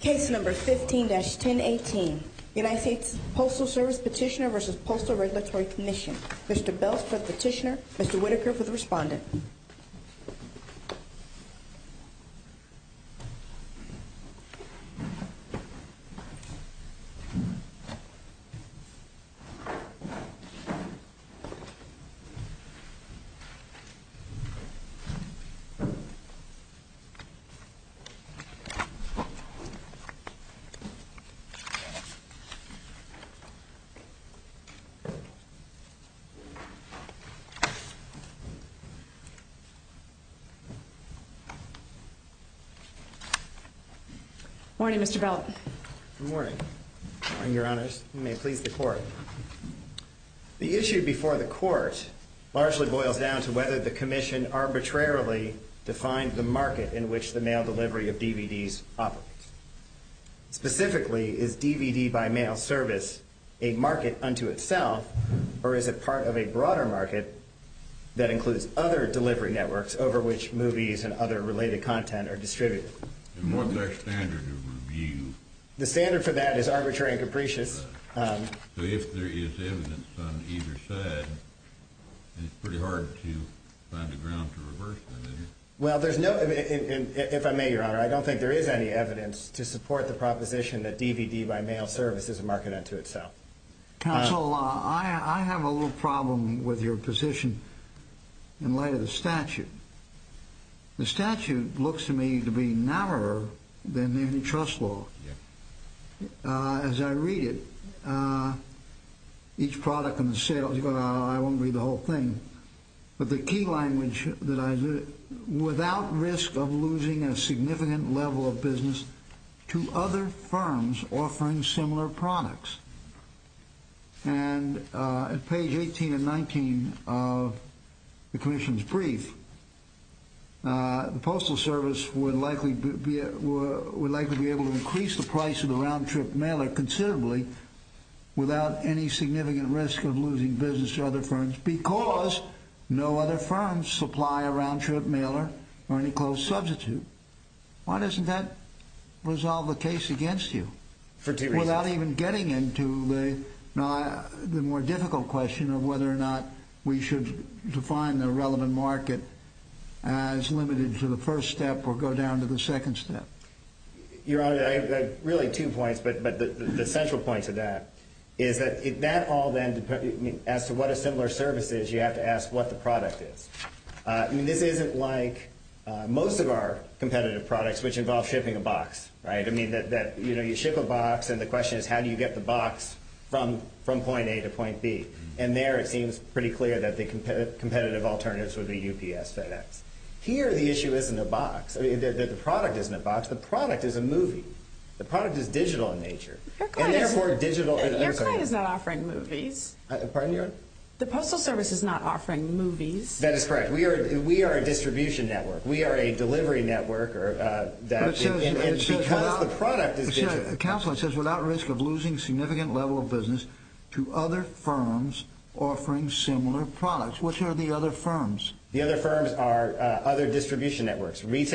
Case number 15-1018, United States Postal Service Petitioner v. Postal Regulatory Commission. Mr. Belz for the petitioner, Mr. Whitaker for the respondent. Good morning, Mr. Belz. Good morning. Good morning, Your Honors. You may please the court. The issue before the court largely boils down to whether the commission arbitrarily defined the market in which the mail delivery of DVDs operates. Specifically, is DVD by mail service a market unto itself, or is it part of a broader market that includes other delivery networks over which movies and other related content are distributed? And what's our standard of review? The standard for that is arbitrary and capricious. So if there is evidence on either side, it's pretty hard to find a ground to reverse that, is it? Well, there's no, if I may, Your Honor, I don't think there is any evidence to support the proposition that DVD by mail service is a market unto itself. Counsel, I have a little problem with your position in light of the statute. The statute looks to me to be narrower than any trust law. As I read it, each product and the sales, I won't read the whole thing, but the key language that I read, without risk of losing a significant level of business to other firms offering similar products. And at page 18 and 19 of the commission's brief, the Postal Service would likely be able to increase the price of the round-trip mailer considerably without any significant risk of losing business to other firms because no other firms supply a round-trip mailer or any closed substitute. Why doesn't that resolve the case against you? For two reasons. Without even getting into the more difficult question of whether or not we should define the relevant market as limited to the first step or go down to the second step. Your Honor, I have really two points, but the central point to that is that all then, as to what a similar service is, you have to ask what the product is. This isn't like most of our competitive products, which involve shipping a box. You ship a box, and the question is how do you get the box from point A to point B? And there it seems pretty clear that the competitive alternatives would be UPS, FedEx. Here the issue isn't a box. The product isn't a box. The product is a movie. The product is digital in nature. And therefore, digital— Your client is not offering movies. Pardon, Your Honor? The Postal Service is not offering movies. That is correct. We are a distribution network. We are a delivery network, and because the product is digital— Counselor, it says without risk of losing significant level of business to other firms offering similar products. Which are the other firms? The other firms are other distribution networks. This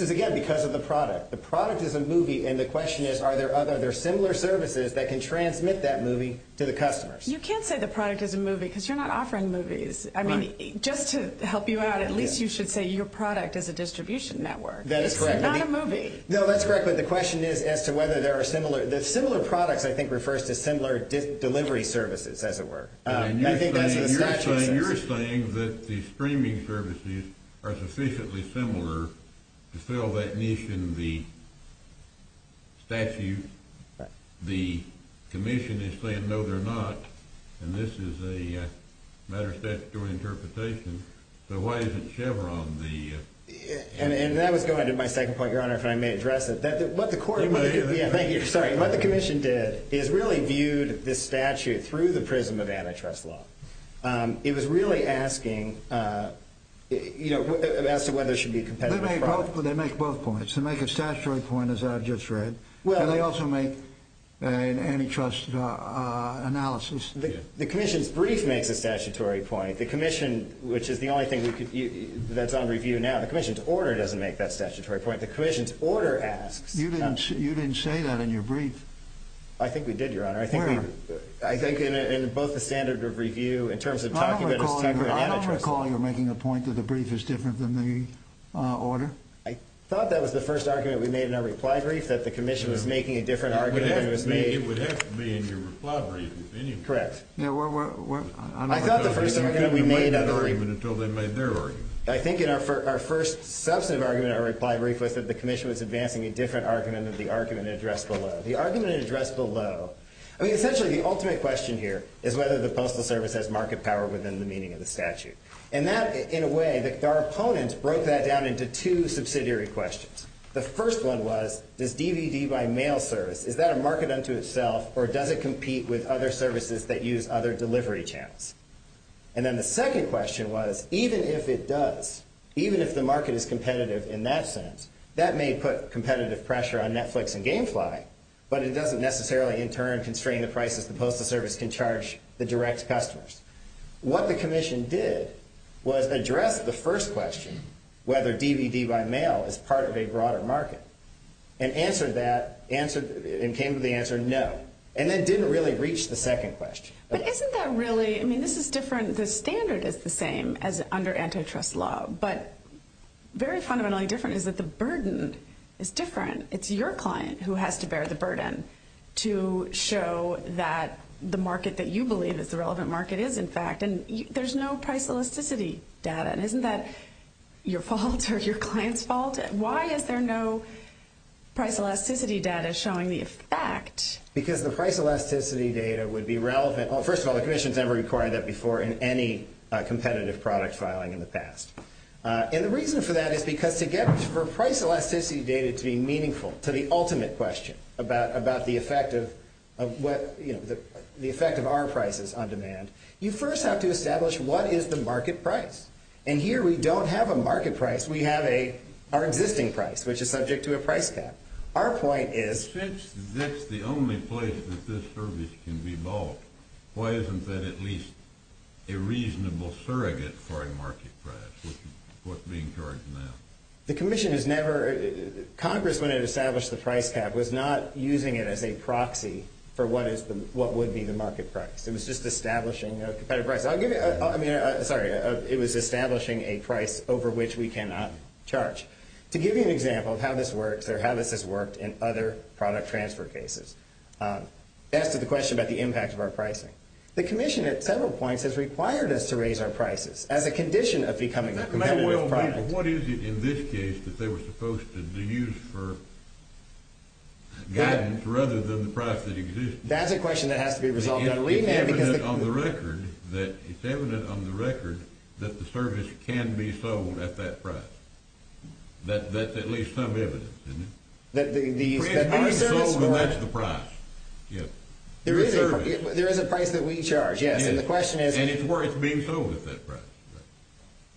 is, again, because of the product. The product is a movie, and the question is are there similar services that can transmit that movie to the customers? You can't say the product is a movie because you're not offering movies. I mean, just to help you out, at least you should say your product is a distribution network. That is correct. It's not a movie. No, that's correct, but the question is as to whether there are similar— the similar products, I think, refers to similar delivery services, as it were. I think that's what the statute says. You're saying that the streaming services are sufficiently similar to fill that niche in the statute. The commission is saying, no, they're not, and this is a matter of statutory interpretation. So why isn't Chevron the— And that was going to my second point, Your Honor, if I may address it. What the commission did is really viewed this statute through the prism of antitrust law. It was really asking as to whether there should be competitive— They make both points. They make a statutory point, as I've just read. And they also make an antitrust analysis. The commission's brief makes a statutory point. The commission, which is the only thing that's on review now, the commission's order doesn't make that statutory point. The commission's order asks— You didn't say that in your brief. I think we did, Your Honor. Where? I think in both the standard of review in terms of talking about this type of antitrust law— I don't recall you making a point that the brief is different than the order. I thought that was the first argument we made in our reply brief, that the commission was making a different argument than was made— It would have to be in your reply brief, in any event. Correct. I thought the first argument we made— You couldn't make an argument until they made their argument. I think in our first substantive argument in our reply brief was that the commission was advancing a different argument than the argument addressed below. The argument addressed below—I mean, essentially the ultimate question here is whether the Postal Service has market power within the meaning of the statute. In a way, our opponents broke that down into two subsidiary questions. The first one was, does DVD buy mail service? Is that a market unto itself, or does it compete with other services that use other delivery channels? And then the second question was, even if it does, even if the market is competitive in that sense, that may put competitive pressure on Netflix and Gamefly, but it doesn't necessarily, in turn, constrain the prices the Postal Service can charge the direct customers. What the commission did was address the first question, whether DVD buy mail is part of a broader market, and came to the answer no. And that didn't really reach the second question. But isn't that really—I mean, this is different. The standard is the same as under antitrust law, but very fundamentally different is that the burden is different. It's your client who has to bear the burden to show that the market that you believe is the relevant market is, in fact, and there's no price elasticity data. And isn't that your fault or your client's fault? Why is there no price elasticity data showing the effect? Because the price elasticity data would be relevant—well, first of all, the commission has never required that before in any competitive product filing in the past. And the reason for that is because to get for price elasticity data to be meaningful to the ultimate question about the effect of our prices on demand, you first have to establish what is the market price. And here we don't have a market price. We have our existing price, which is subject to a price cap. Our point is— Why isn't that at least a reasonable surrogate for a market price, what's being charged now? The commission has never—Congress, when it established the price cap, was not using it as a proxy for what would be the market price. It was just establishing a competitive price. I'll give you—I mean, sorry. It was establishing a price over which we cannot charge. To give you an example of how this works or how this has worked in other product transfer cases, that's to the question about the impact of our pricing. The commission at several points has required us to raise our prices as a condition of becoming a competitive product. What is it in this case that they were supposed to use for guidance rather than the price that exists? That's a question that has to be resolved. It's evident on the record that the service can be sold at that price. That's at least some evidence, isn't it? The price is being sold and that's the price. There is a price that we charge, yes, and the question is— And it's worth being sold at that price.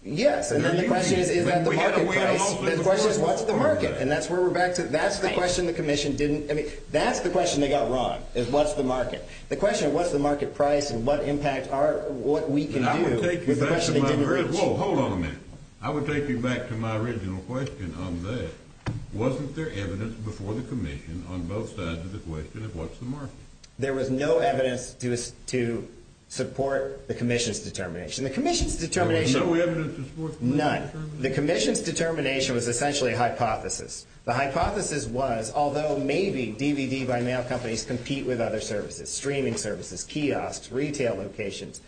Yes, and then the question is, is that the market price? The question is, what's the market? And that's where we're back to—that's the question the commission didn't—I mean, that's the question they got wrong, is what's the market. The question of what's the market price and what impact are—what we can do with the question they didn't reach. Well, hold on a minute. I would take you back to my original question on that. Wasn't there evidence before the commission on both sides of the question of what's the market? There was no evidence to support the commission's determination. There was no evidence to support the commission's determination? None. The commission's determination was essentially a hypothesis. The hypothesis was, although maybe DVD-by-mail companies compete with other services, streaming services, kiosks, retail locations,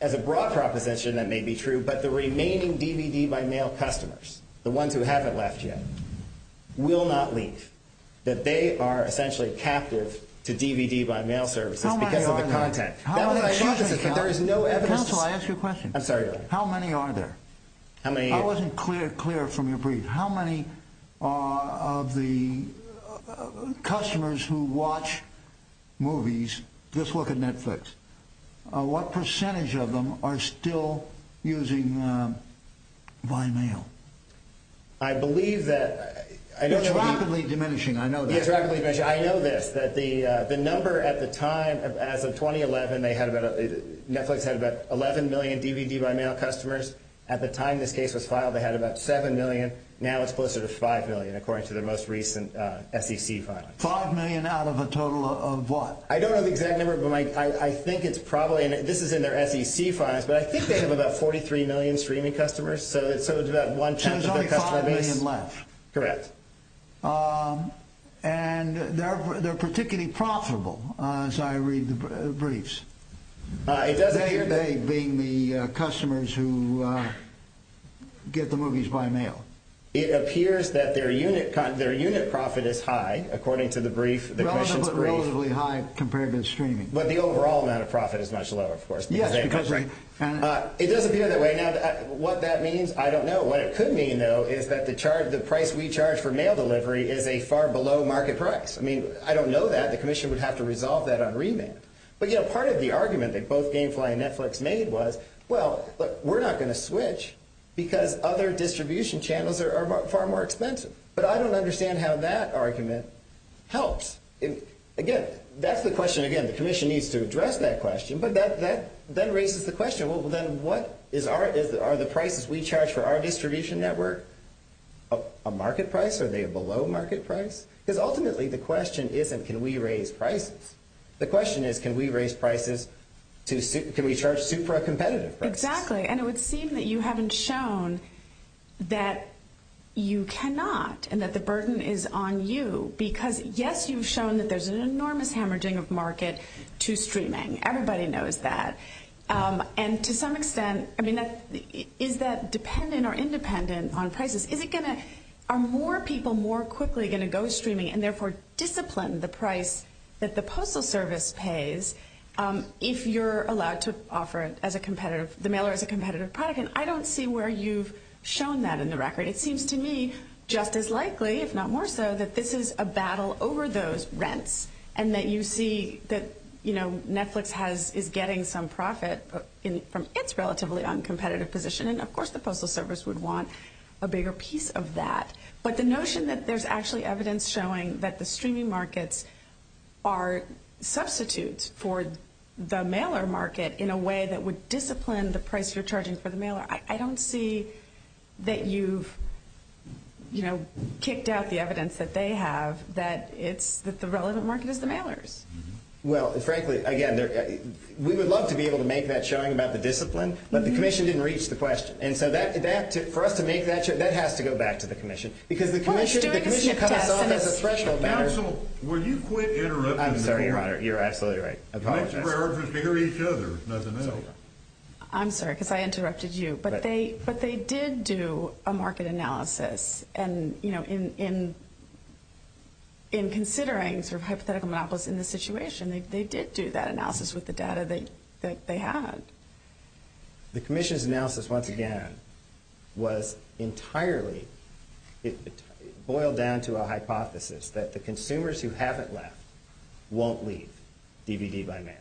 as a broad proposition, that may be true, but the remaining DVD-by-mail customers, the ones who haven't left yet, will not leave. That they are essentially captive to DVD-by-mail services because of the content. How many are there? That was my hypothesis, but there is no evidence— Counsel, I ask you a question. I'm sorry. How many are there? How many— I wasn't clear from your brief. How many of the customers who watch movies, just look at Netflix, what percentage of them are still using by mail? I believe that— It's rapidly diminishing. I know that. It's rapidly diminishing. I know this, that the number at the time, as of 2011, Netflix had about 11 million DVD-by-mail customers. At the time this case was filed, they had about 7 million. Now it's closer to 5 million, according to their most recent SEC filing. 5 million out of a total of what? I don't know the exact number, but I think it's probably—and this is in their SEC files, but I think they have about 43 million streaming customers. So it's about one-tenth of their customer base. And there's only 5 million left. Correct. And they're particularly profitable, as I read the briefs. They being the customers who get the movies by mail. It appears that their unit profit is high, according to the brief, the commission's brief. Relatively high compared to the streaming. But the overall amount of profit is much lower, of course. Yes, because— It does appear that way. Now, what that means, I don't know. What it could mean, though, is that the price we charge for mail delivery is a far below market price. I mean, I don't know that. The commission would have to resolve that on remand. But, you know, part of the argument that both Gamefly and Netflix made was, well, look, we're not going to switch because other distribution channels are far more expensive. But I don't understand how that argument helps. Again, that's the question—again, the commission needs to address that question. But that then raises the question, well, then what is our—are the prices we charge for our distribution network a market price? Are they a below market price? Because ultimately the question isn't can we raise prices. The question is can we raise prices to—can we charge super competitive prices? Exactly. And it would seem that you haven't shown that you cannot and that the burden is on you. Because, yes, you've shown that there's an enormous hemorrhaging of market to streaming. Everybody knows that. And to some extent—I mean, is that dependent or independent on prices? Is it going to—are more people more quickly going to go streaming and therefore discipline the price that the Postal Service pays if you're allowed to offer it as a competitive—the mailer as a competitive product? And I don't see where you've shown that in the record. It seems to me just as likely, if not more so, that this is a battle over those rents and that you see that, you know, Netflix has—is getting some profit from its relatively uncompetitive position. And, of course, the Postal Service would want a bigger piece of that. But the notion that there's actually evidence showing that the streaming markets are substitutes for the mailer market in a way that would discipline the price you're charging for the mailer, I don't see that you've, you know, kicked out the evidence that they have that it's—that the relevant market is the mailers. Well, frankly, again, we would love to be able to make that showing about the discipline, but the commission didn't reach the question. And so that—for us to make that show, that has to go back to the commission. Because the commission—the commission comes off as a threshold matter. Counsel, will you quit interrupting the court? I'm sorry, Your Honor. You're absolutely right. I apologize. The next priority is to hear each other, nothing else. I'm sorry, because I interrupted you. But they did do a market analysis. And, you know, in considering sort of hypothetical monopolies in this situation, they did do that analysis with the data that they had. The commission's analysis, once again, was entirely—boiled down to a hypothesis that the consumers who haven't left won't leave DVD by mail.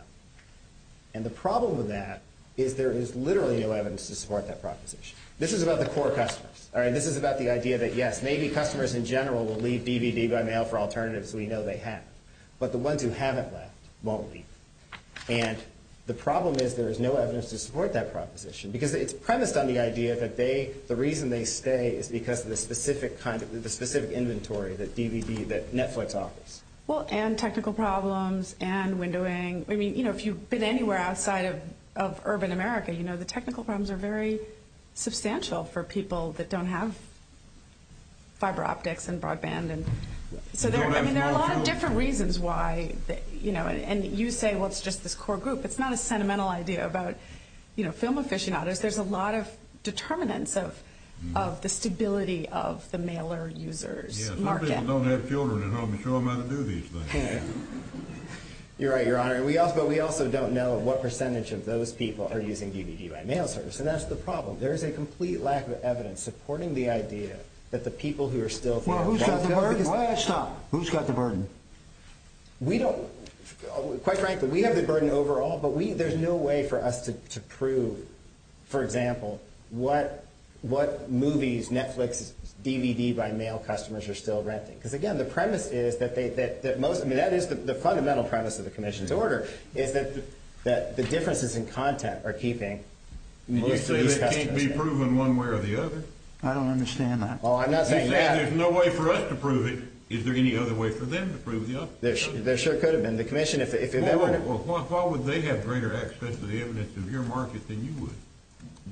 And the problem with that is there is literally no evidence to support that proposition. This is about the core customers, all right? This is about the idea that, yes, maybe customers in general will leave DVD by mail for alternatives we know they have. But the ones who haven't left won't leave. And the problem is there is no evidence to support that proposition. Because it's premised on the idea that they—the reason they stay is because of the specific kind of—the specific inventory that DVD—that Netflix offers. Well, and technical problems and windowing. I mean, you know, if you've been anywhere outside of urban America, you know, the technical problems are very substantial for people that don't have fiber optics and broadband. So, I mean, there are a lot of different reasons why, you know—and you say, well, it's just this core group. It's not a sentimental idea about, you know, film aficionados. There's a lot of determinants of the stability of the mailer user's market. Most people don't have children at home to show them how to do these things. You're right, Your Honor. But we also don't know what percentage of those people are using DVD by mail service. And that's the problem. There is a complete lack of evidence supporting the idea that the people who are still— Well, who's got the burden? Why did I stop? Who's got the burden? We don't—quite frankly, we have the burden overall, but there's no way for us to prove, for example, what movies, Netflix, DVD by mail customers are still renting. Because, again, the premise is that most—I mean, that is the fundamental premise of the commission's order, is that the differences in content are keeping most of these customers— You say that can't be proven one way or the other. I don't understand that. Oh, I'm not saying that. You say there's no way for us to prove it. Is there any other way for them to prove the opposite? There sure could have been. The commission, if it— Well, why would they have greater access to the evidence of your market than you would?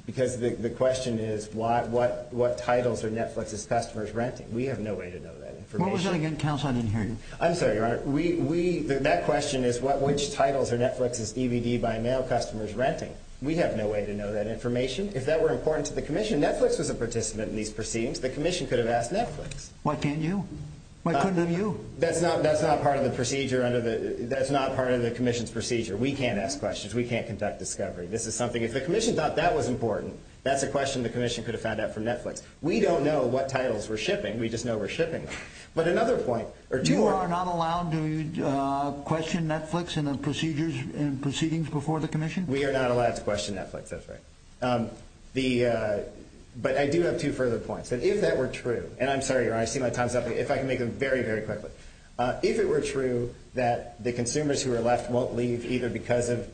Because the question is, what titles are Netflix's customers renting? We have no way to know that information. What was that again? Counsel, I didn't hear you. I'm sorry, Your Honor. We—that question is, which titles are Netflix's DVD by mail customers renting? We have no way to know that information. If that were important to the commission, Netflix was a participant in these proceedings. The commission could have asked Netflix. Why can't you? Why couldn't have you? That's not part of the procedure under the—that's not part of the commission's procedure. We can't ask questions. We can't conduct discovery. This is something—if the commission thought that was important, that's a question the commission could have found out from Netflix. We don't know what titles we're shipping. We just know we're shipping them. But another point— You are not allowed to question Netflix in the procedures and proceedings before the commission? We are not allowed to question Netflix. That's right. The—but I do have two further points. And if that were true—and I'm sorry, Your Honor, I see my time's up. If I can make them very, very quickly. If it were true that the consumers who are left won't leave either because of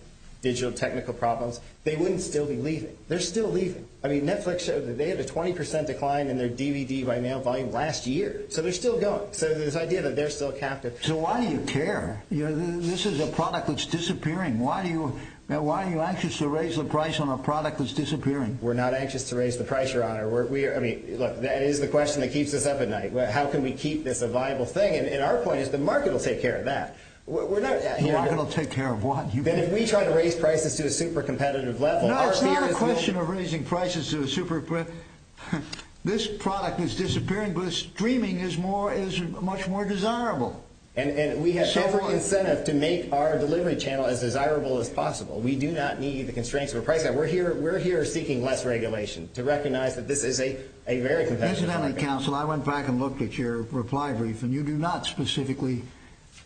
digital technical problems, they wouldn't still be leaving. They're still leaving. I mean, Netflix showed that they had a 20 percent decline in their DVD-by-mail volume last year. So they're still going. So there's an idea that they're still captive. So why do you care? This is a product that's disappearing. Why do you—why are you anxious to raise the price on a product that's disappearing? We're not anxious to raise the price, Your Honor. We are—I mean, look, that is the question that keeps us up at night. How can we keep this a viable thing? And our point is the market will take care of that. We're not— The market will take care of what? That if we try to raise prices to a super competitive level— No, it's not a question of raising prices to a super—this product is disappearing, but streaming is more—is much more desirable. And we have every incentive to make our delivery channel as desirable as possible. We do not need the constraints of a price gap. We're here seeking less regulation to recognize that this is a very competitive market. Incidentally, counsel, I went back and looked at your reply brief, and you do not specifically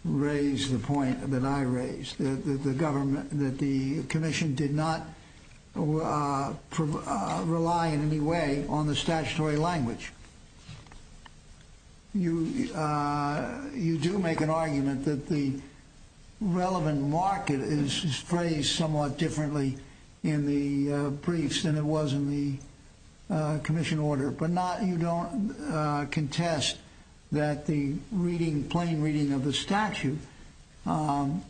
raise the point that I raised, that the government—that the commission did not rely in any way on the statutory language. You do make an argument that the relevant market is phrased somewhat differently in the briefs than it was in the commission order, but you don't contest that the plain reading of the statute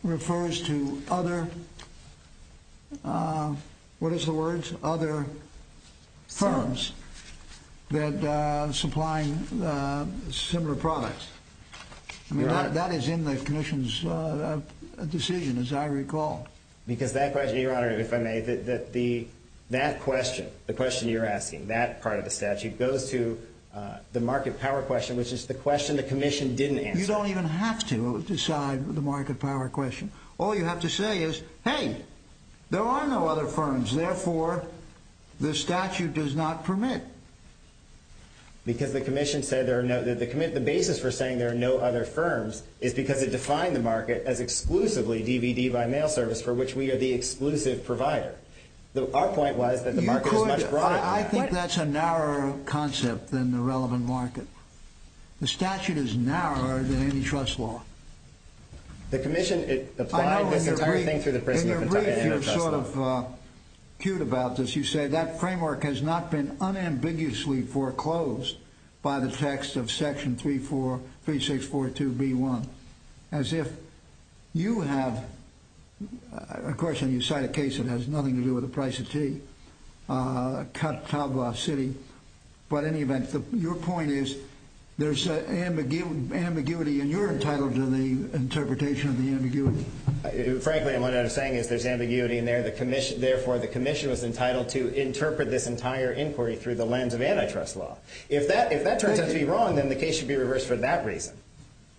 refers to other—what is the word? Other firms that are supplying similar products. I mean, that is in the commission's decision, as I recall. Because that question—Your Honor, if I may, that question, the question you're asking, that part of the statute, goes to the market power question, which is the question the commission didn't answer. You don't even have to decide the market power question. All you have to say is, hey, there are no other firms, therefore, the statute does not permit. Because the commission said there are no—the basis for saying there are no other firms is because it defined the market as exclusively DVD-by-mail service, for which we are the exclusive provider. Our point was that the market is much broader than that. I think that's a narrower concept than the relevant market. The statute is narrower than any trust law. The commission applied this entire thing through the prison— In your brief, you're sort of cute about this. As you say, that framework has not been unambiguously foreclosed by the text of Section 343642B1. As if you have—of course, when you cite a case, it has nothing to do with the price of tea. Cut to Bluff City. But in any event, your point is there's ambiguity, and you're entitled to the interpretation of the ambiguity. Frankly, what I'm saying is there's ambiguity in there. Therefore, the commission was entitled to interpret this entire inquiry through the lens of antitrust law. If that turns out to be wrong, then the case should be reversed for that reason.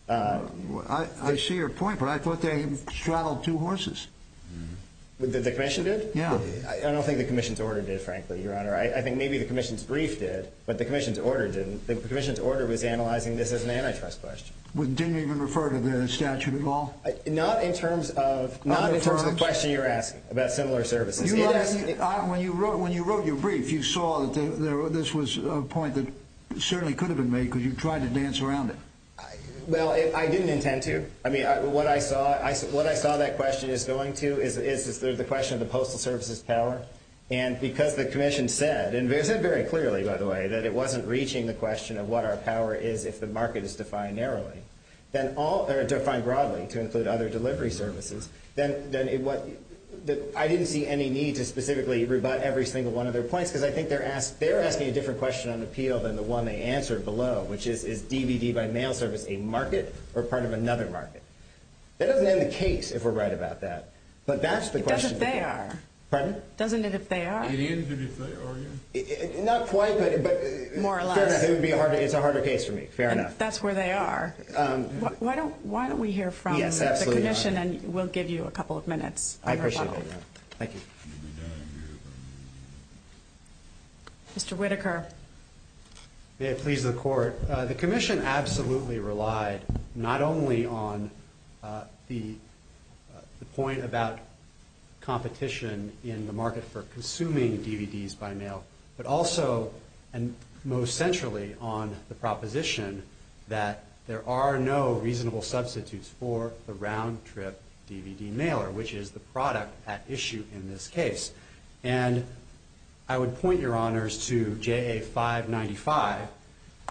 I see your point, but I thought they straddled two horses. The commission did? Yeah. I don't think the commission's order did, frankly, Your Honor. I think maybe the commission's brief did, but the commission's order didn't. The commission's order was analyzing this as an antitrust question. Didn't it even refer to the statute at all? Not in terms of the question you're asking about similar services. When you wrote your brief, you saw that this was a point that certainly could have been made because you tried to dance around it. Well, I didn't intend to. I mean, what I saw that question is going to is the question of the Postal Service's power. And because the commission said, and they said very clearly, by the way, that it wasn't reaching the question of what our power is if the market is defined narrowly, or defined broadly to include other delivery services, then I didn't see any need to specifically rebut every single one of their points because I think they're asking a different question on appeal than the one they answered below, which is, is DVD by mail service a market or part of another market? That doesn't end the case if we're right about that. But that's the question. It does if they are. Pardon? Doesn't it if they are? It is if they are. Not quite, but it's a harder case for me. Fair enough. That's where they are. Why don't we hear from the commission, and we'll give you a couple of minutes. I appreciate that. Thank you. Mr. Whitaker. May it please the Court. The commission absolutely relied not only on the point about competition in the market for consuming DVDs by mail, but also and most centrally on the proposition that there are no reasonable substitutes for the round-trip DVD mailer, which is the product at issue in this case. And I would point, Your Honors, to JA 595.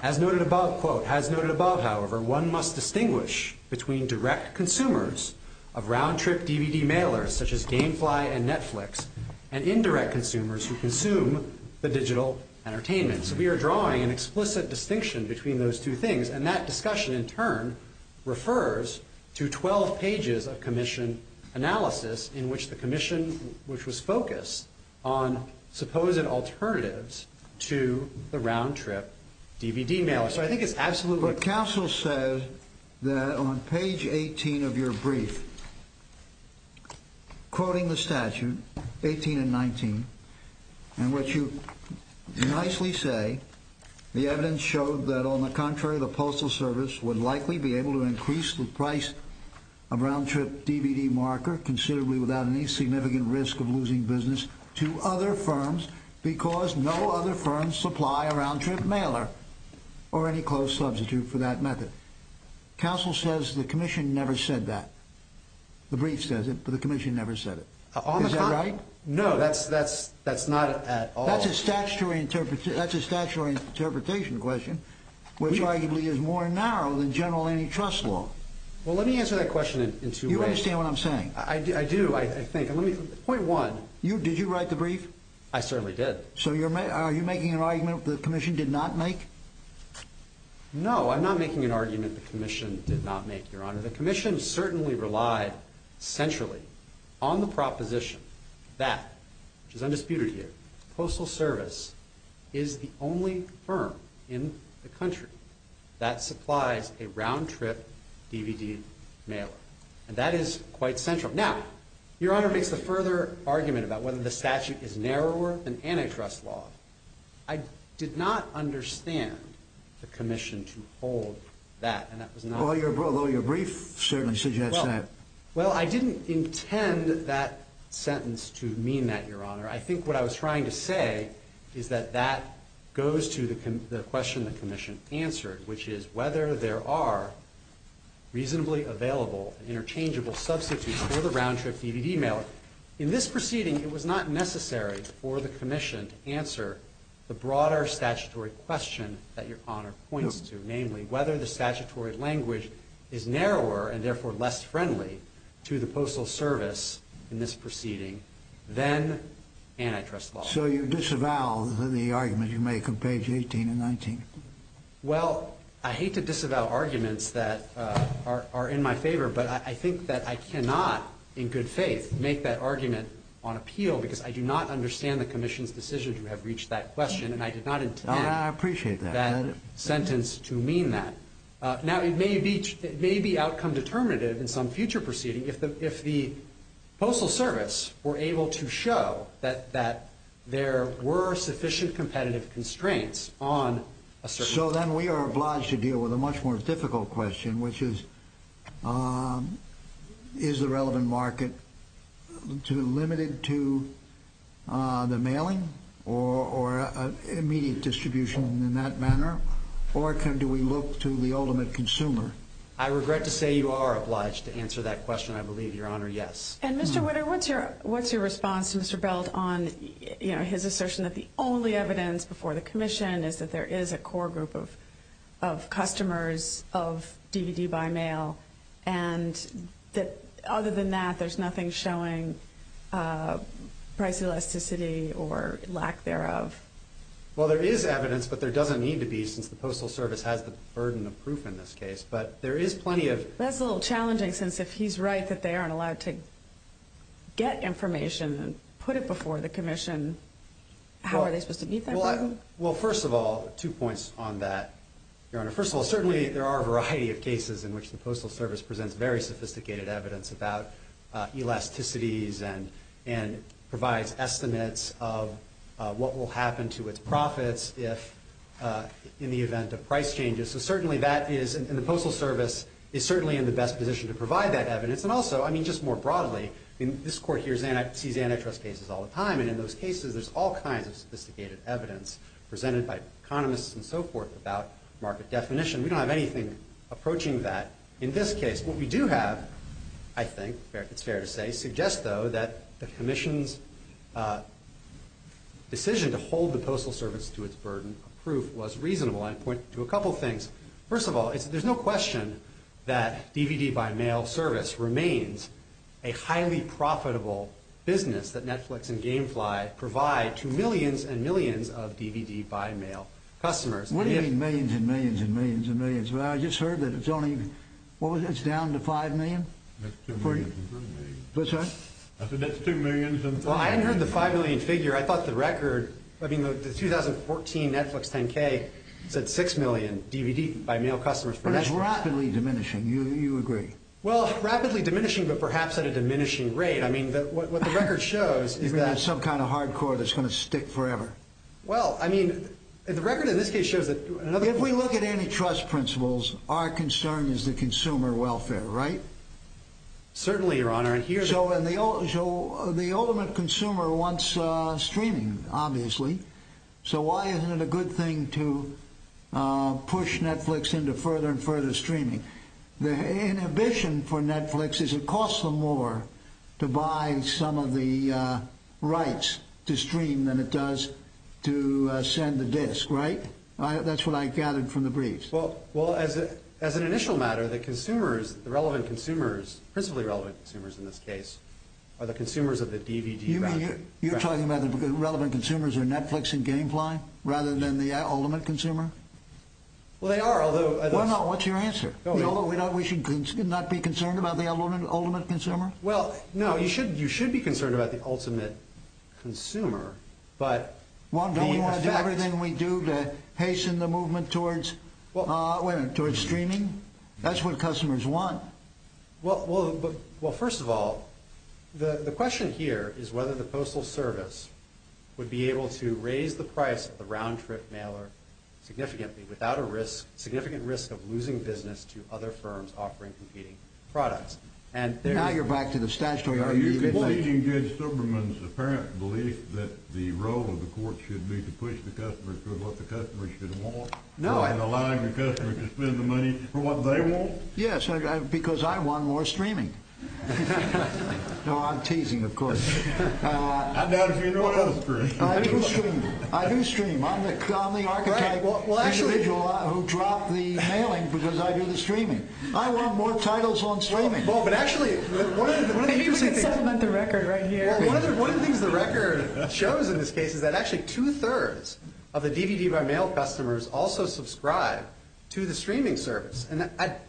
As noted above, quote, As noted above, however, one must distinguish between direct consumers of round-trip DVD mailers, such as Gamefly and Netflix, and indirect consumers who consume the digital entertainment. So we are drawing an explicit distinction between those two things, and that discussion in turn refers to 12 pages of commission analysis in which the commission, which was focused on supposed alternatives to the round-trip DVD mailer. So I think it's absolutely clear. But counsel says that on page 18 of your brief, quoting the statute, 18 and 19, and what you nicely say, the evidence showed that on the contrary, the Postal Service would likely be able to increase the price of round-trip DVD marker considerably without any significant risk of losing business to other firms because no other firms supply a round-trip mailer or any closed substitute for that method. Counsel says the commission never said that. The brief says it, but the commission never said it. Is that right? No, that's not at all. That's a statutory interpretation question, which arguably is more narrow than general antitrust law. Well, let me answer that question in two ways. You understand what I'm saying? I do, I think. Point one. Did you write the brief? I certainly did. So are you making an argument the commission did not make? No, I'm not making an argument the commission did not make, Your Honor. The commission certainly relied centrally on the proposition that, which is undisputed here, Postal Service is the only firm in the country that supplies a round-trip DVD mailer, and that is quite central. Now, Your Honor makes the further argument about whether the statute is narrower than antitrust law. I did not understand the commission to hold that, and that was not the case. Well, your brief certainly suggests that. Well, I didn't intend that sentence to mean that, Your Honor. I think what I was trying to say is that that goes to the question the commission answered, which is whether there are reasonably available and interchangeable substitutes for the round-trip DVD mailer. In this proceeding, it was not necessary for the commission to answer the broader statutory question that Your Honor points to, namely whether the statutory language is narrower and therefore less friendly to the Postal Service in this proceeding than antitrust law. So you disavow the argument you make on page 18 and 19? Well, I hate to disavow arguments that are in my favor, but I think that I cannot, in good faith, make that argument on appeal because I do not understand the commission's decision to have reached that question, and I did not intend that sentence to mean that. Now, it may be outcome determinative in some future proceeding if the Postal Service were able to show that there were sufficient competitive constraints on a certain market. So then we are obliged to deal with a much more difficult question, which is, is the relevant market limited to the mailing or immediate distribution in that manner, or do we look to the ultimate consumer? I regret to say you are obliged to answer that question, I believe, Your Honor, yes. And Mr. Witter, what's your response to Mr. Belt on his assertion that the only evidence before the commission is that there is a core group of customers of DVD by mail, and that other than that there's nothing showing price elasticity or lack thereof? Well, there is evidence, but there doesn't need to be, since the Postal Service has the burden of proof in this case, but there is plenty of... That's a little challenging, since if he's right that they aren't allowed to get information and put it before the commission, how are they supposed to meet that burden? Well, first of all, two points on that, Your Honor. First of all, certainly there are a variety of cases in which the Postal Service presents very sophisticated evidence about elasticities and provides estimates of what will happen to its profits in the event of price changes. So certainly that is, and the Postal Service is certainly in the best position to provide that evidence. And also, I mean, just more broadly, this Court here sees antitrust cases all the time, and in those cases there's all kinds of sophisticated evidence presented by economists and so forth about market definition. We don't have anything approaching that in this case. What we do have, I think, it's fair to say, suggests, though, that the commission's decision to hold the Postal Service to its burden of proof was reasonable. I point to a couple things. First of all, there's no question that DVD by mail service remains a highly profitable business that Netflix and Gamefly provide to millions and millions of DVD by mail customers. What do you mean millions and millions and millions and millions? Well, I just heard that it's only, what was it, it's down to 5 million? That's 2 million. What's that? I said that's 2 million. Well, I hadn't heard the 5 million figure. I thought the record, I mean, the 2014 Netflix 10K said 6 million DVD by mail customers. That's rapidly diminishing. You agree? Well, rapidly diminishing, but perhaps at a diminishing rate. I mean, what the record shows is that. You're going to have some kind of hardcore that's going to stick forever. Well, I mean, the record in this case shows that. If we look at antitrust principles, our concern is the consumer welfare, right? Certainly, Your Honor. So the ultimate consumer wants streaming, obviously. So why isn't it a good thing to push Netflix into further and further streaming? The inhibition for Netflix is it costs them more to buy some of the rights to stream than it does to send the disc, right? That's what I gathered from the briefs. Well, as an initial matter, the consumers, the relevant consumers, principally relevant consumers in this case, are the consumers of the DVD record. You mean you're talking about the relevant consumers are Netflix and Gamefly rather than the ultimate consumer? Well, they are, although. Well, no, what's your answer? We should not be concerned about the ultimate consumer? Well, no, you should be concerned about the ultimate consumer. Don't we want to do everything we do to hasten the movement towards streaming? That's what customers want. Well, first of all, the question here is whether the Postal Service would be able to raise the price of the round-trip mailer significantly without a significant risk of losing business to other firms offering competing products. Now you're back to the statutory argument. Are you conceding Judge Subramanian's apparent belief that the role of the court should be to push the customer toward what the customer should want rather than allowing the customer to spend the money for what they want? Yes, because I want more streaming. No, I'm teasing, of course. I doubt if you know what else, Chris. I do stream. I do stream. I'm the archetype individual who dropped the mailing because I do the streaming. I want more titles on streaming. Well, but actually, one of the things the record shows in this case is that actually two-thirds of the DVD-by-mail customers also subscribe to the streaming service,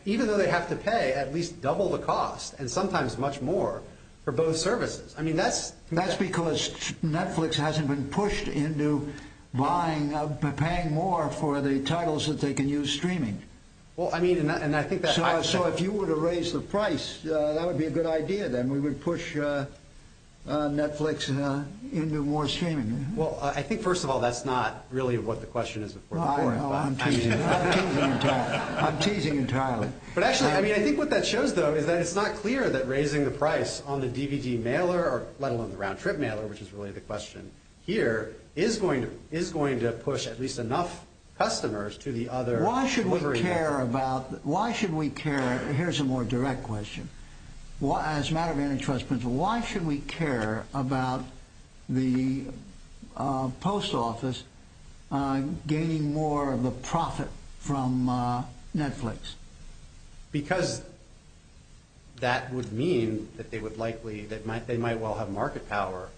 even though they have to pay at least double the cost and sometimes much more for both services. I mean, that's because Netflix hasn't been pushed into buying or paying more for the titles that they can use streaming. So if you were to raise the price, that would be a good idea, then. We would push Netflix into more streaming. Well, I think, first of all, that's not really what the question is before the court. Oh, I'm teasing. I'm teasing entirely. The point is that it's not clear that raising the price on the DVD mailer, let alone the round-trip mailer, which is really the question here, is going to push at least enough customers to the other delivery networks. Why should we care? Here's a more direct question. As a matter of antitrust principle, why should we care about the post office gaining more of the profit from Netflix? Because that would mean that they might well have market power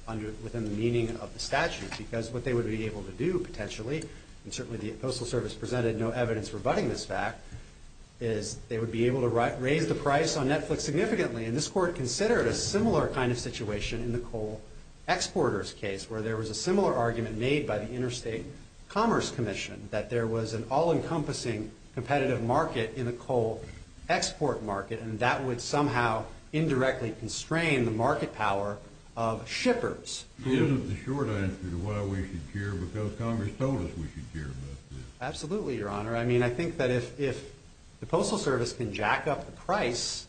within the meaning of the statute. Because what they would be able to do, potentially, and certainly the Postal Service presented no evidence rebutting this fact, is they would be able to raise the price on Netflix significantly. And this court considered a similar kind of situation in the coal exporters case, where there was a similar argument made by the Interstate Commerce Commission, that there was an all-encompassing competitive market in the coal export market, and that would somehow indirectly constrain the market power of shippers. Isn't the short answer to why we should care, because Congress told us we should care about this? Absolutely, Your Honor. I mean, I think that if the Postal Service can jack up the price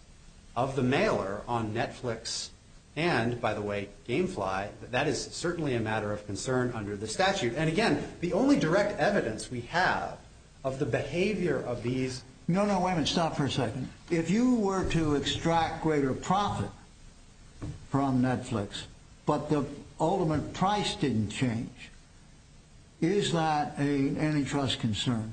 of the mailer on Netflix, and, by the way, Gamefly, that is certainly a matter of concern under the statute. And, again, the only direct evidence we have of the behavior of these— No, no, wait a minute. Stop for a second. If you were to extract greater profit from Netflix, but the ultimate price didn't change, is that an antitrust concern?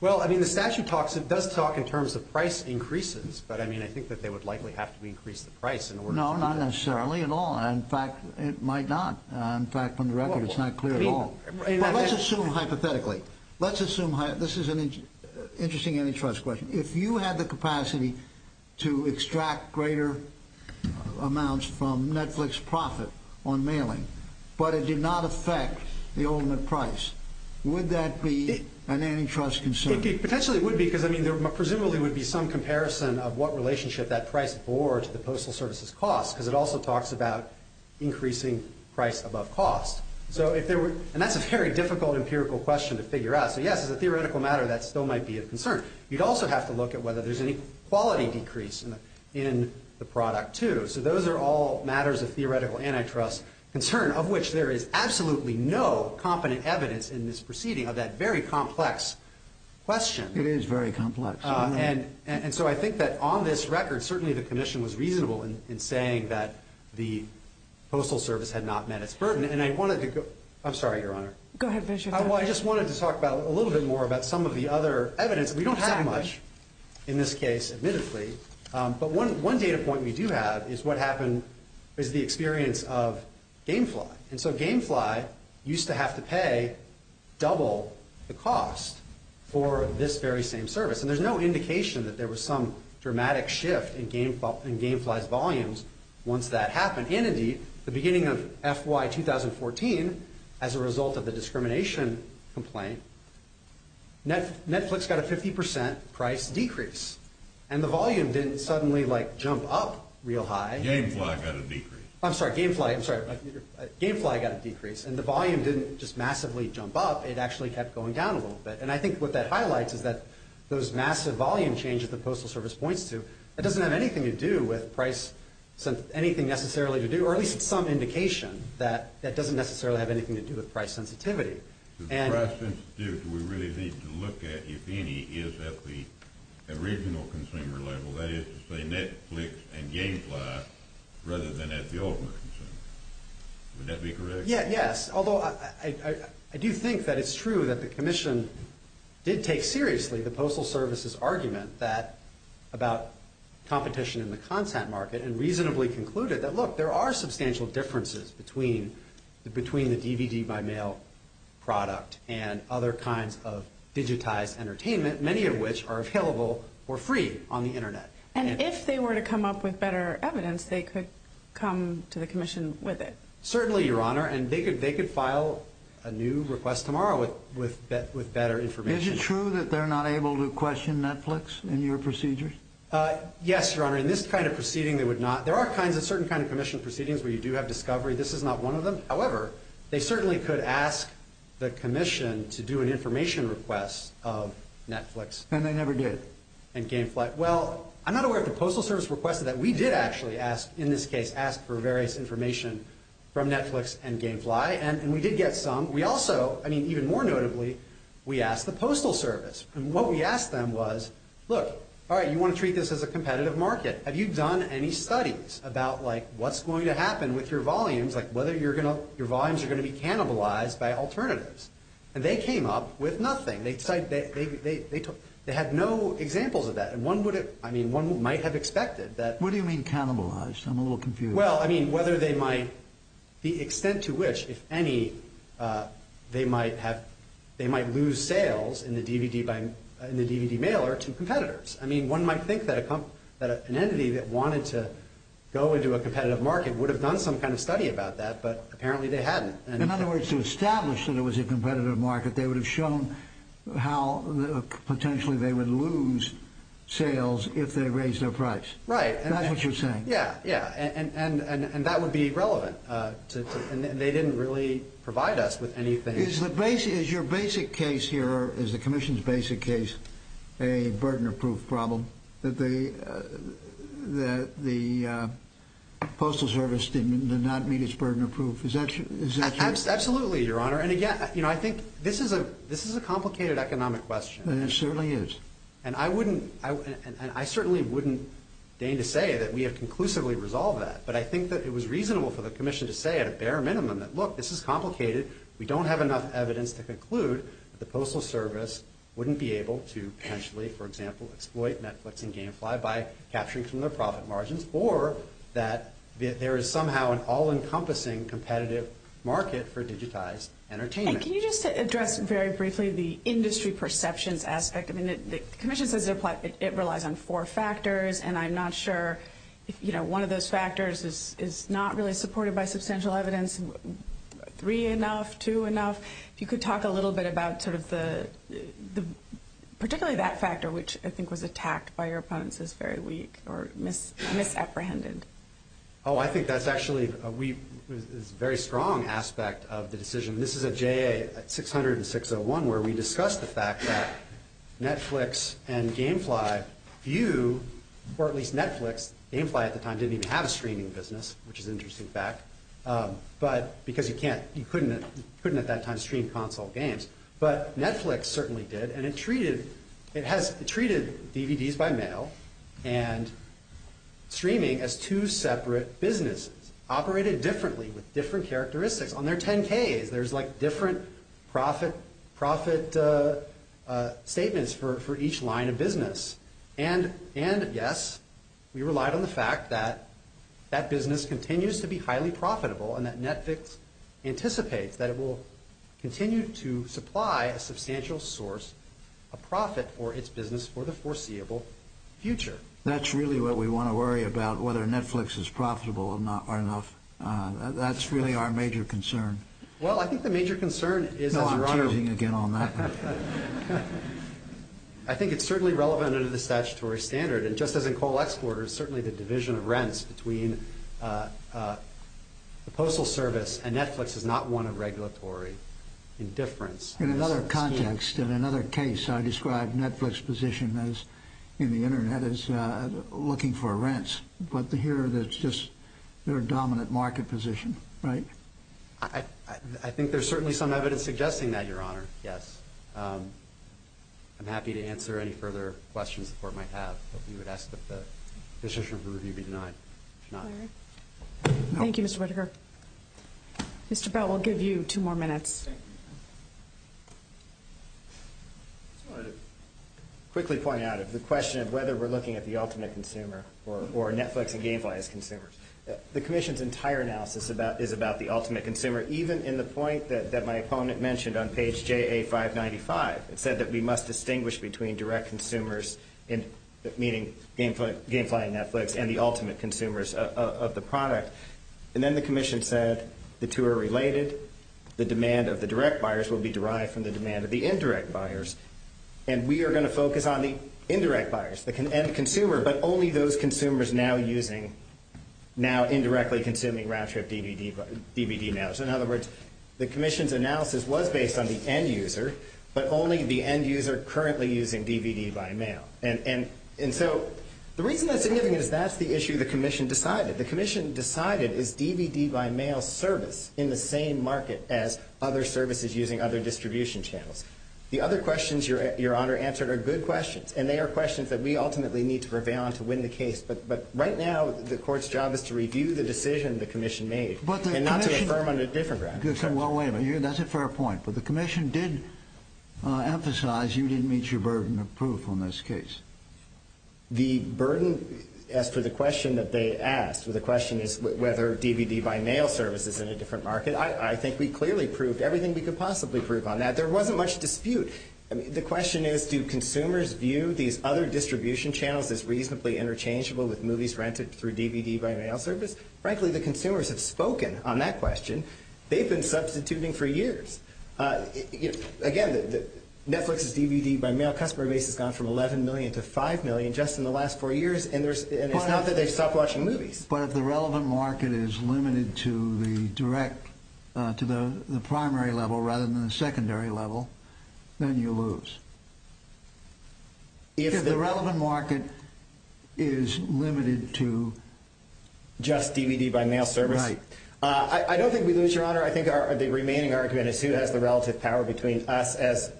Well, I mean, the statute does talk in terms of price increases, but I mean, I think that they would likely have to increase the price in order to do that. No, not necessarily at all. In fact, it might not. In fact, from the record, it's not clear at all. But let's assume hypothetically. Let's assume—this is an interesting antitrust question. If you had the capacity to extract greater amounts from Netflix profit on mailing, but it did not affect the ultimate price, would that be an antitrust concern? It potentially would be, because, I mean, there presumably would be some comparison of what relationship that price bore to the Postal Service's cost, because it also talks about increasing price above cost. So if there were—and that's a very difficult empirical question to figure out. So, yes, as a theoretical matter, that still might be a concern. You'd also have to look at whether there's any quality decrease in the product, too. So those are all matters of theoretical antitrust concern, of which there is absolutely no competent evidence in this proceeding of that very complex question. It is very complex. And so I think that on this record, certainly the commission was reasonable in saying that the Postal Service had not met its burden. And I wanted to go—I'm sorry, Your Honor. Go ahead. Finish your thought. I just wanted to talk a little bit more about some of the other evidence. We don't have much in this case, admittedly. But one data point we do have is what happened is the experience of Gamefly. And so Gamefly used to have to pay double the cost for this very same service. And there's no indication that there was some dramatic shift in Gamefly's volumes once that happened. And, indeed, the beginning of FY 2014, as a result of the discrimination complaint, Netflix got a 50 percent price decrease. And the volume didn't suddenly, like, jump up real high. Gamefly got a decrease. I'm sorry. Gamefly—I'm sorry. Gamefly got a decrease. And the volume didn't just massively jump up. It actually kept going down a little bit. And I think what that highlights is that those massive volume changes that Postal Service points to, that doesn't have anything to do with price—anything necessarily to do— or at least some indication that that doesn't necessarily have anything to do with price sensitivity. The price sensitivity we really need to look at, if any, is at the original consumer level, that is to say Netflix and Gamefly, rather than at the ultimate consumer. Would that be correct? Yes. Yes, although I do think that it's true that the Commission did take seriously the Postal Service's argument about competition in the content market and reasonably concluded that, look, there are substantial differences between the DVD-by-mail product and other kinds of digitized entertainment, many of which are available or free on the Internet. And if they were to come up with better evidence, they could come to the Commission with it. Certainly, Your Honor. And they could file a new request tomorrow with better information. Is it true that they're not able to question Netflix in your procedure? Yes, Your Honor. In this kind of proceeding, they would not. There are certain kinds of Commission proceedings where you do have discovery. This is not one of them. However, they certainly could ask the Commission to do an information request of Netflix. And they never did. And Gamefly—well, I'm not aware if the Postal Service requested that. We did actually ask, in this case, ask for various information from Netflix and Gamefly. And we did get some. We also—I mean, even more notably, we asked the Postal Service. And what we asked them was, look, all right, you want to treat this as a competitive market. Have you done any studies about, like, what's going to happen with your volumes, like whether your volumes are going to be cannibalized by alternatives? And they came up with nothing. They had no examples of that. And one might have expected that— What do you mean cannibalized? I'm a little confused. Well, I mean, whether they might—the extent to which, if any, they might lose sales in the DVD mailer to competitors. I mean, one might think that an entity that wanted to go into a competitive market would have done some kind of study about that, but apparently they hadn't. In other words, to establish that it was a competitive market, they would have shown how potentially they would lose sales if they raised their price. Right. That's what you're saying. Yeah, yeah. And that would be relevant. And they didn't really provide us with anything. Is your basic case here, is the Commission's basic case, a burden of proof problem, that the Postal Service did not meet its burden of proof? Is that true? Absolutely, Your Honor. And again, I think this is a complicated economic question. It certainly is. And I certainly wouldn't deign to say that we have conclusively resolved that, but I think that it was reasonable for the Commission to say at a bare minimum that, look, this is complicated. We don't have enough evidence to conclude that the Postal Service wouldn't be able to potentially, for example, exploit Netflix and Gamefly by capturing from their profit margins, or that there is somehow an all-encompassing competitive market for digitized entertainment. And can you just address very briefly the industry perceptions aspect? I mean, the Commission says it relies on four factors, and I'm not sure if one of those factors is not really supported by substantial evidence, three enough, two enough. If you could talk a little bit about sort of particularly that factor, which I think was attacked by your opponents as very weak or misapprehended. Oh, I think that's actually a very strong aspect of the decision. This is a JA 600 and 601 where we discussed the fact that Netflix and Gamefly view, or at least Netflix, Gamefly at the time didn't even have a streaming business, which is an interesting fact, because you couldn't at that time stream console games. But Netflix certainly did, and it treated DVDs by mail and streaming as two separate businesses operated differently with different characteristics. On their 10Ks, there's like different profit statements for each line of business. And yes, we relied on the fact that that business continues to be highly profitable, and that Netflix anticipates that it will continue to supply a substantial source of profit for its business for the foreseeable future. That's really what we want to worry about, whether Netflix is profitable or not. That's really our major concern. Well, I think the major concern is as a runner. No, I'm choosing again on that one. I think it's certainly relevant under the statutory standard, and just as in coal exporters, certainly the division of rents between the postal service and Netflix is not one of regulatory indifference. In another context, in another case, I described Netflix's position in the Internet as looking for rents, but here it's just their dominant market position, right? I think there's certainly some evidence suggesting that, Your Honor. Yes. I'm happy to answer any further questions the Court might have. We would ask that the decision of the review be denied. Thank you, Mr. Whittaker. Mr. Bell, we'll give you two more minutes. I just wanted to quickly point out the question of whether we're looking at the ultimate consumer or Netflix and Gamefly as consumers. The Commission's entire analysis is about the ultimate consumer, even in the point that my opponent mentioned on page JA595. It said that we must distinguish between direct consumers, meaning Gamefly and Netflix, and the ultimate consumers of the product. And then the Commission said the two are related. The demand of the direct buyers will be derived from the demand of the indirect buyers. And we are going to focus on the indirect buyers, the end consumer, but only those consumers now indirectly consuming Raptrip DVD now. So, in other words, the Commission's analysis was based on the end user, but only the end user currently using DVD by mail. And so the reason that's significant is that's the issue the Commission decided. The Commission decided is DVD by mail service in the same market as other services using other distribution channels. The other questions Your Honor answered are good questions, and they are questions that we ultimately need to prevail on to win the case. But right now the Court's job is to review the decision the Commission made and not to affirm on a different ground. Well, wait a minute. That's a fair point. But the Commission did emphasize you didn't meet your burden of proof on this case. The burden as to the question that they asked, the question is whether DVD by mail service is in a different market. I think we clearly proved everything we could possibly prove on that. There wasn't much dispute. The question is do consumers view these other distribution channels as reasonably interchangeable with movies rented through DVD by mail service? Frankly, the consumers have spoken on that question. They've been substituting for years. Again, Netflix's DVD by mail customer base has gone from 11 million to 5 million just in the last four years, and it's not that they've stopped watching movies. But if the relevant market is limited to the direct, to the primary level rather than the secondary level, then you lose. If the relevant market is limited to just DVD by mail service? Right. I don't think we lose, Your Honor. I think the remaining argument is who has the relative power between us as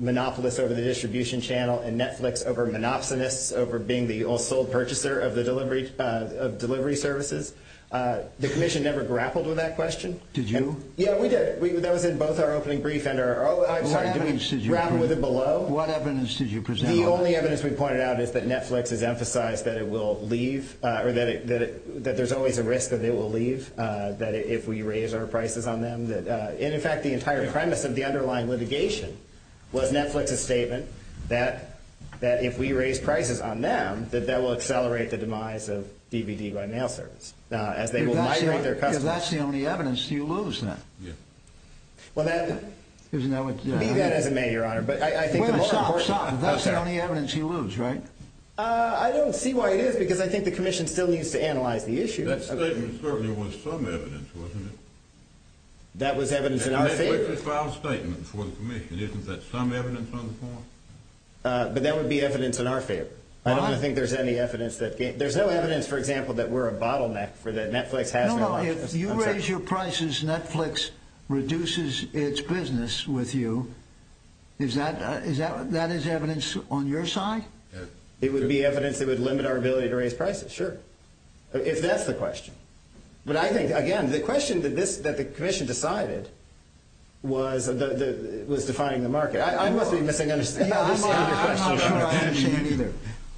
monopolists over the distribution channel and Netflix over monopsonists over being the all-sold purchaser of delivery services. The Commission never grappled with that question. Did you? Yeah, we did. That was in both our opening brief and our – I'm sorry, did we grapple with it below? What evidence did you present? The only evidence we pointed out is that Netflix has emphasized that it will leave, or that there's always a risk that it will leave if we raise our prices on them. And, in fact, the entire premise of the underlying litigation was Netflix's statement that if we raise prices on them, that that will accelerate the demise of DVD by mail service as they will migrate their customers. If that's the only evidence, do you lose then? Yeah. Well, that – Isn't that what – Be that as it may, Your Honor, but I think – Well, stop, stop. If that's the only evidence, you lose, right? I don't see why it is because I think the Commission still needs to analyze the issue. That statement certainly was some evidence, wasn't it? That was evidence in our favor. And Netflix has filed a statement before the Commission. Isn't that some evidence on the part? But that would be evidence in our favor. I don't think there's any evidence that – there's no evidence, for example, that we're a bottleneck, or that Netflix has no options. No, no. If you raise your prices, Netflix reduces its business with you. Is that – is that – that is evidence on your side? It would be evidence that would limit our ability to raise prices. Sure. If that's the question. But I think, again, the question that this – that the Commission decided was defining the market. I must be missing – I'm not sure I understand either.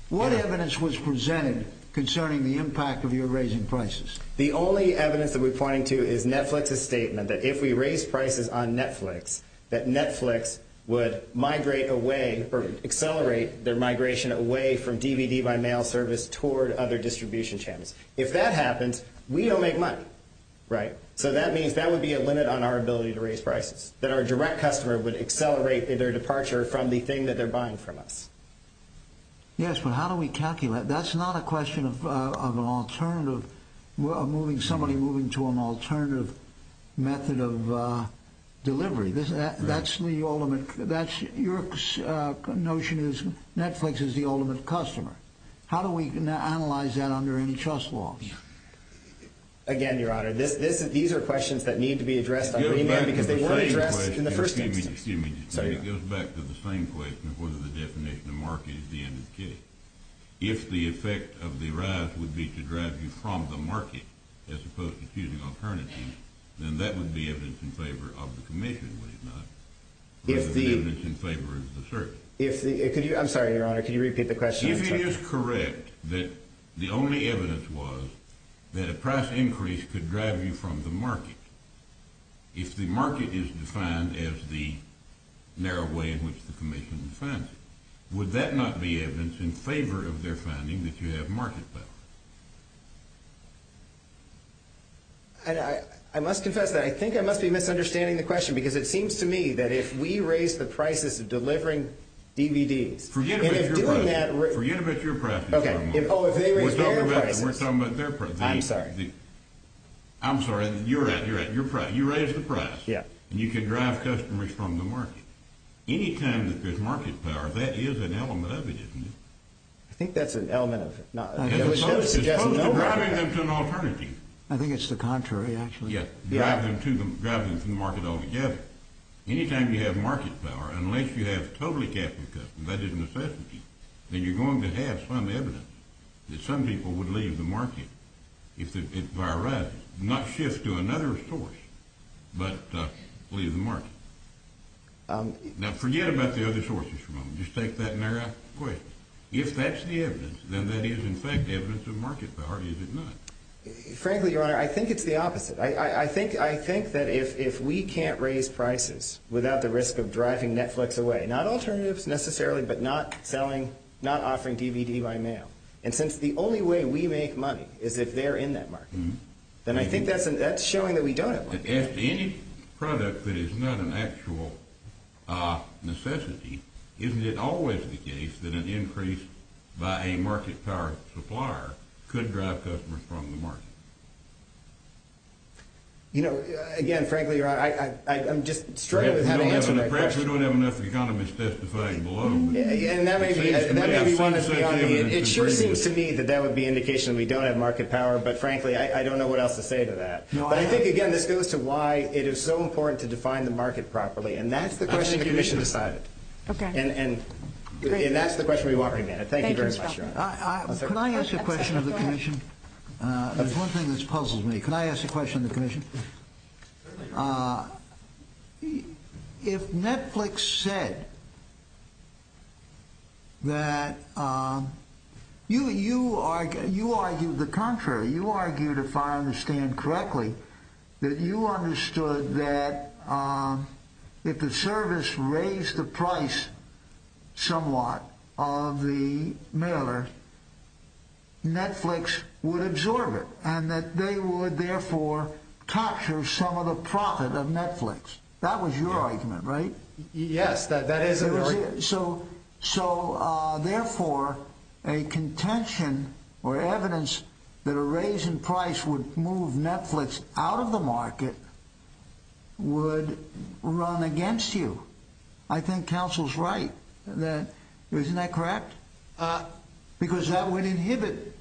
What evidence was presented concerning the impact of your raising prices? The only evidence that we're pointing to is Netflix's statement that if we raise prices on Netflix, that Netflix would migrate away or accelerate their migration away from DVD-by-mail service toward other distribution channels. If that happens, we don't make money, right? So that means that would be a limit on our ability to raise prices, that our direct customer would accelerate their departure from the thing that they're buying from us. Yes, but how do we calculate – that's not a question of an alternative – of moving – somebody moving to an alternative method of delivery. That's the ultimate – that's – your notion is Netflix is the ultimate customer. How do we analyze that under any trust laws? Again, Your Honor, this – these are questions that need to be addressed on remand because they weren't addressed in the first instance. Excuse me. Excuse me. Sorry, Your Honor. It goes back to the same question of whether the definition of market is the end of the case. If the effect of the rise would be to drive you from the market as opposed to choosing alternatives, then that would be evidence in favor of the Commission, would it not? If the – Or is it evidence in favor of the service? If the – could you – I'm sorry, Your Honor, could you repeat the question? If it is correct that the only evidence was that a price increase could drive you from the market, if the market is defined as the narrow way in which the Commission defines it, would that not be evidence in favor of their finding that you have market power? I must confess that I think I must be misunderstanding the question because it seems to me that if we raise the prices of delivering DVDs – Forget about your prices. And if doing that – Forget about your prices, Your Honor. Okay. Oh, if they raise their prices. We're talking about their – I'm sorry. I'm sorry. You're right. You're right. You raised the price. Yeah. And you could drive customers from the market. Any time that there's market power, that is an element of it, isn't it? I think that's an element of it. As opposed to driving them to an alternative. I think it's the contrary, actually. Yeah. Drive them from the market altogether. Any time you have market power, unless you have totally capital customers, that is necessity, then you're going to have some evidence that some people would leave the market if it arises, not shift to another source, but leave the market. Now, forget about the other sources for a moment. Just take that narrow question. If that's the evidence, then that is, in fact, evidence of market power, is it not? Frankly, Your Honor, I think it's the opposite. I think that if we can't raise prices without the risk of driving Netflix away – not alternatives, necessarily, but not offering DVD by mail. And since the only way we make money is if they're in that market, then I think that's showing that we don't have money. If any product that is not an actual necessity, isn't it always the case that an increase by a market power supplier could drive customers from the market? You know, again, frankly, Your Honor, I'm just struggling with how to answer that question. We don't have enough economists testifying below. And that may be one that's beyond me. It sure seems to me that that would be an indication that we don't have market power, but frankly, I don't know what else to say to that. But I think, again, this goes to why it is so important to define the market properly. And that's the question the Commission decided. And that's the question we want remanded. Thank you very much, Your Honor. Can I ask a question of the Commission? There's one thing that's puzzled me. Can I ask a question of the Commission? Certainly, Your Honor. If Netflix said that you argued the contrary, you argued, if I understand correctly, that you understood that if the service raised the price somewhat of the mailer, Netflix would absorb it and that they would, therefore, capture some of the profit of Netflix. That was your argument, right? Yes, that is an argument. So, therefore, a contention or evidence that a raise in price would move Netflix out of the market would run against you. I think counsel's right. Isn't that correct? Because that would inhibit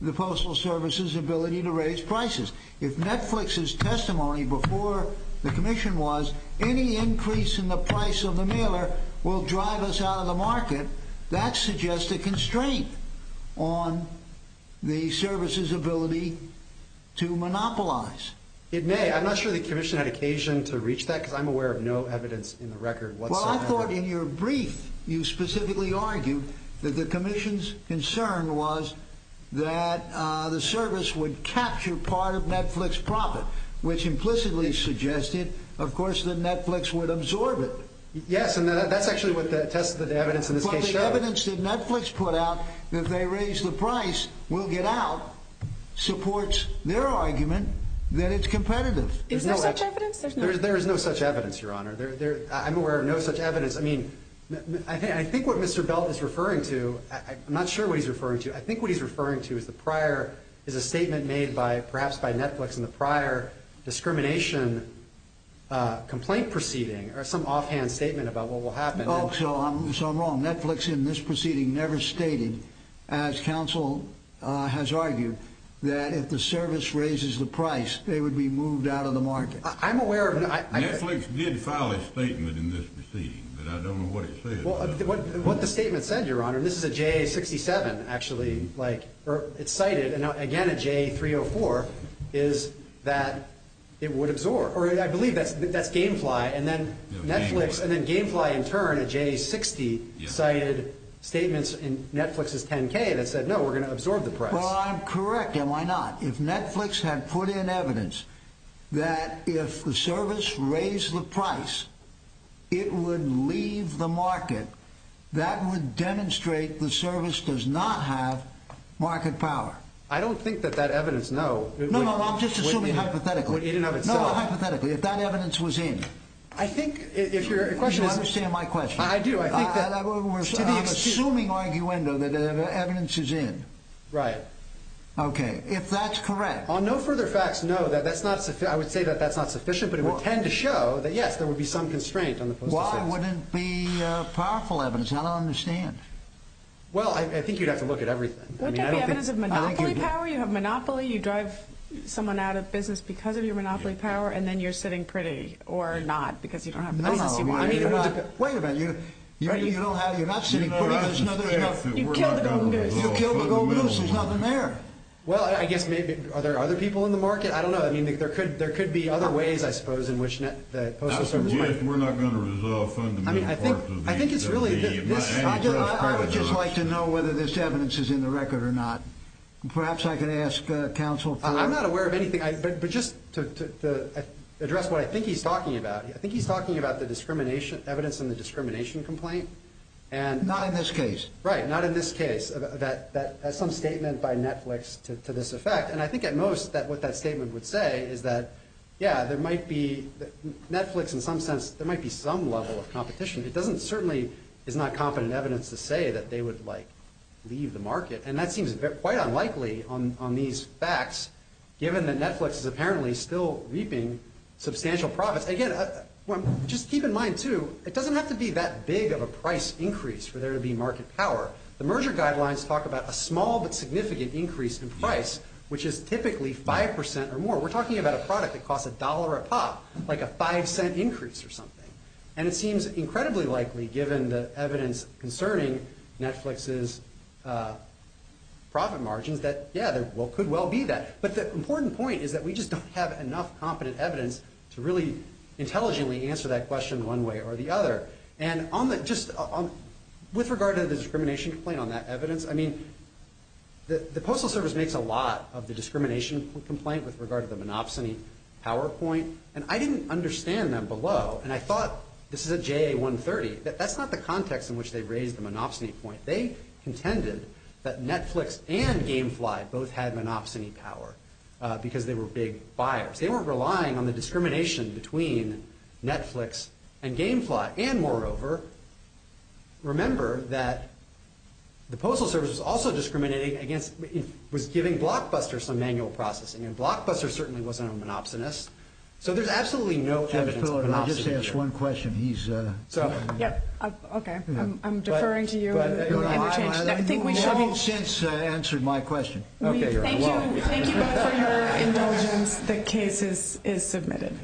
the Postal Service's ability to raise prices. If Netflix's testimony before the Commission was, any increase in the price of the mailer will drive us out of the market, that suggests a constraint on the Service's ability to monopolize. It may. I'm not sure the Commission had occasion to reach that because I'm aware of no evidence in the record whatsoever. I thought in your brief you specifically argued that the Commission's concern was that the Service would capture part of Netflix's profit, which implicitly suggested, of course, that Netflix would absorb it. Yes, and that's actually what the evidence in this case showed. But the evidence that Netflix put out that they raised the price will get out supports their argument that it's competitive. Is there such evidence? There is no such evidence, Your Honor. I'm aware of no such evidence. I think what Mr. Belt is referring to, I'm not sure what he's referring to. I think what he's referring to is a statement made perhaps by Netflix in the prior discrimination complaint proceeding or some offhand statement about what will happen. So I'm wrong. Netflix in this proceeding never stated, as counsel has argued, that if the Service raises the price, they would be moved out of the market. I'm aware of no— Netflix did file a statement in this proceeding, but I don't know what it said. What the statement said, Your Honor, and this is a J67, actually, like it's cited, and again a J304, is that it would absorb. Or I believe that's Gamefly, and then Netflix, and then Gamefly in turn, a J60, cited statements in Netflix's 10-K that said, no, we're going to absorb the price. Well, I'm correct, am I not? If Netflix had put in evidence that if the Service raised the price, it would leave the market, that would demonstrate the Service does not have market power. I don't think that that evidence, no— No, no, I'm just assuming hypothetically. Hypothetically, if that evidence was in— I think if your question is— You understand my question. I do. I think that— I'm assuming arguendo that evidence is in. Right. Okay, if that's correct. On no further facts, no, that's not sufficient. I would say that that's not sufficient, but it would tend to show that, yes, there would be some constraint on the postal service. Why wouldn't be powerful evidence? I don't understand. Well, I think you'd have to look at everything. Wouldn't that be evidence of monopoly power? You have monopoly, you drive someone out of business because of your monopoly power, and then you're sitting pretty, or not, because you don't have a business. No, no, I mean— Wait a minute, you don't have—you're not sitting pretty because— You killed the Golden Goose. You killed the Golden Goose. There's nothing there. Well, I guess maybe—are there other people in the market? I don't know. I mean, there could be other ways, I suppose, in which the postal service might— I suggest we're not going to resolve fundamental parts of the— I mean, I think it's really— I would just like to know whether this evidence is in the record or not. Perhaps I could ask counsel for— I'm not aware of anything. But just to address what I think he's talking about, I think he's talking about the discrimination—evidence in the discrimination complaint. Not in this case. Right, not in this case. That some statement by Netflix to this effect. And I think, at most, what that statement would say is that, yeah, there might be— Netflix, in some sense, there might be some level of competition. It doesn't certainly—it's not competent evidence to say that they would, like, leave the market. And that seems quite unlikely on these facts, given that Netflix is apparently still reaping substantial profits. Again, just keep in mind, too, it doesn't have to be that big of a price increase for there to be market power. The merger guidelines talk about a small but significant increase in price, which is typically five percent or more. We're talking about a product that costs a dollar a pop, like a five-cent increase or something. And it seems incredibly likely, given the evidence concerning Netflix's profit margins, that, yeah, there could well be that. But the important point is that we just don't have enough competent evidence to really intelligently answer that question one way or the other. And just with regard to the discrimination complaint, on that evidence, I mean, the Postal Service makes a lot of the discrimination complaint with regard to the monopsony power point. And I didn't understand that below. And I thought—this is at JA-130— that that's not the context in which they raised the monopsony point. They contended that Netflix and Gamefly both had monopsony power because they were big buyers. They weren't relying on the discrimination between Netflix and Gamefly. And, moreover, remember that the Postal Service was also discriminating against— was giving Blockbuster some manual processing. And Blockbuster certainly wasn't a monopsonist. So there's absolutely no evidence of monopsony here. Let me just ask one question. He's— Okay. I'm deferring to you. I think we should all— You haven't since answered my question. Thank you both for your indulgence. The case is submitted.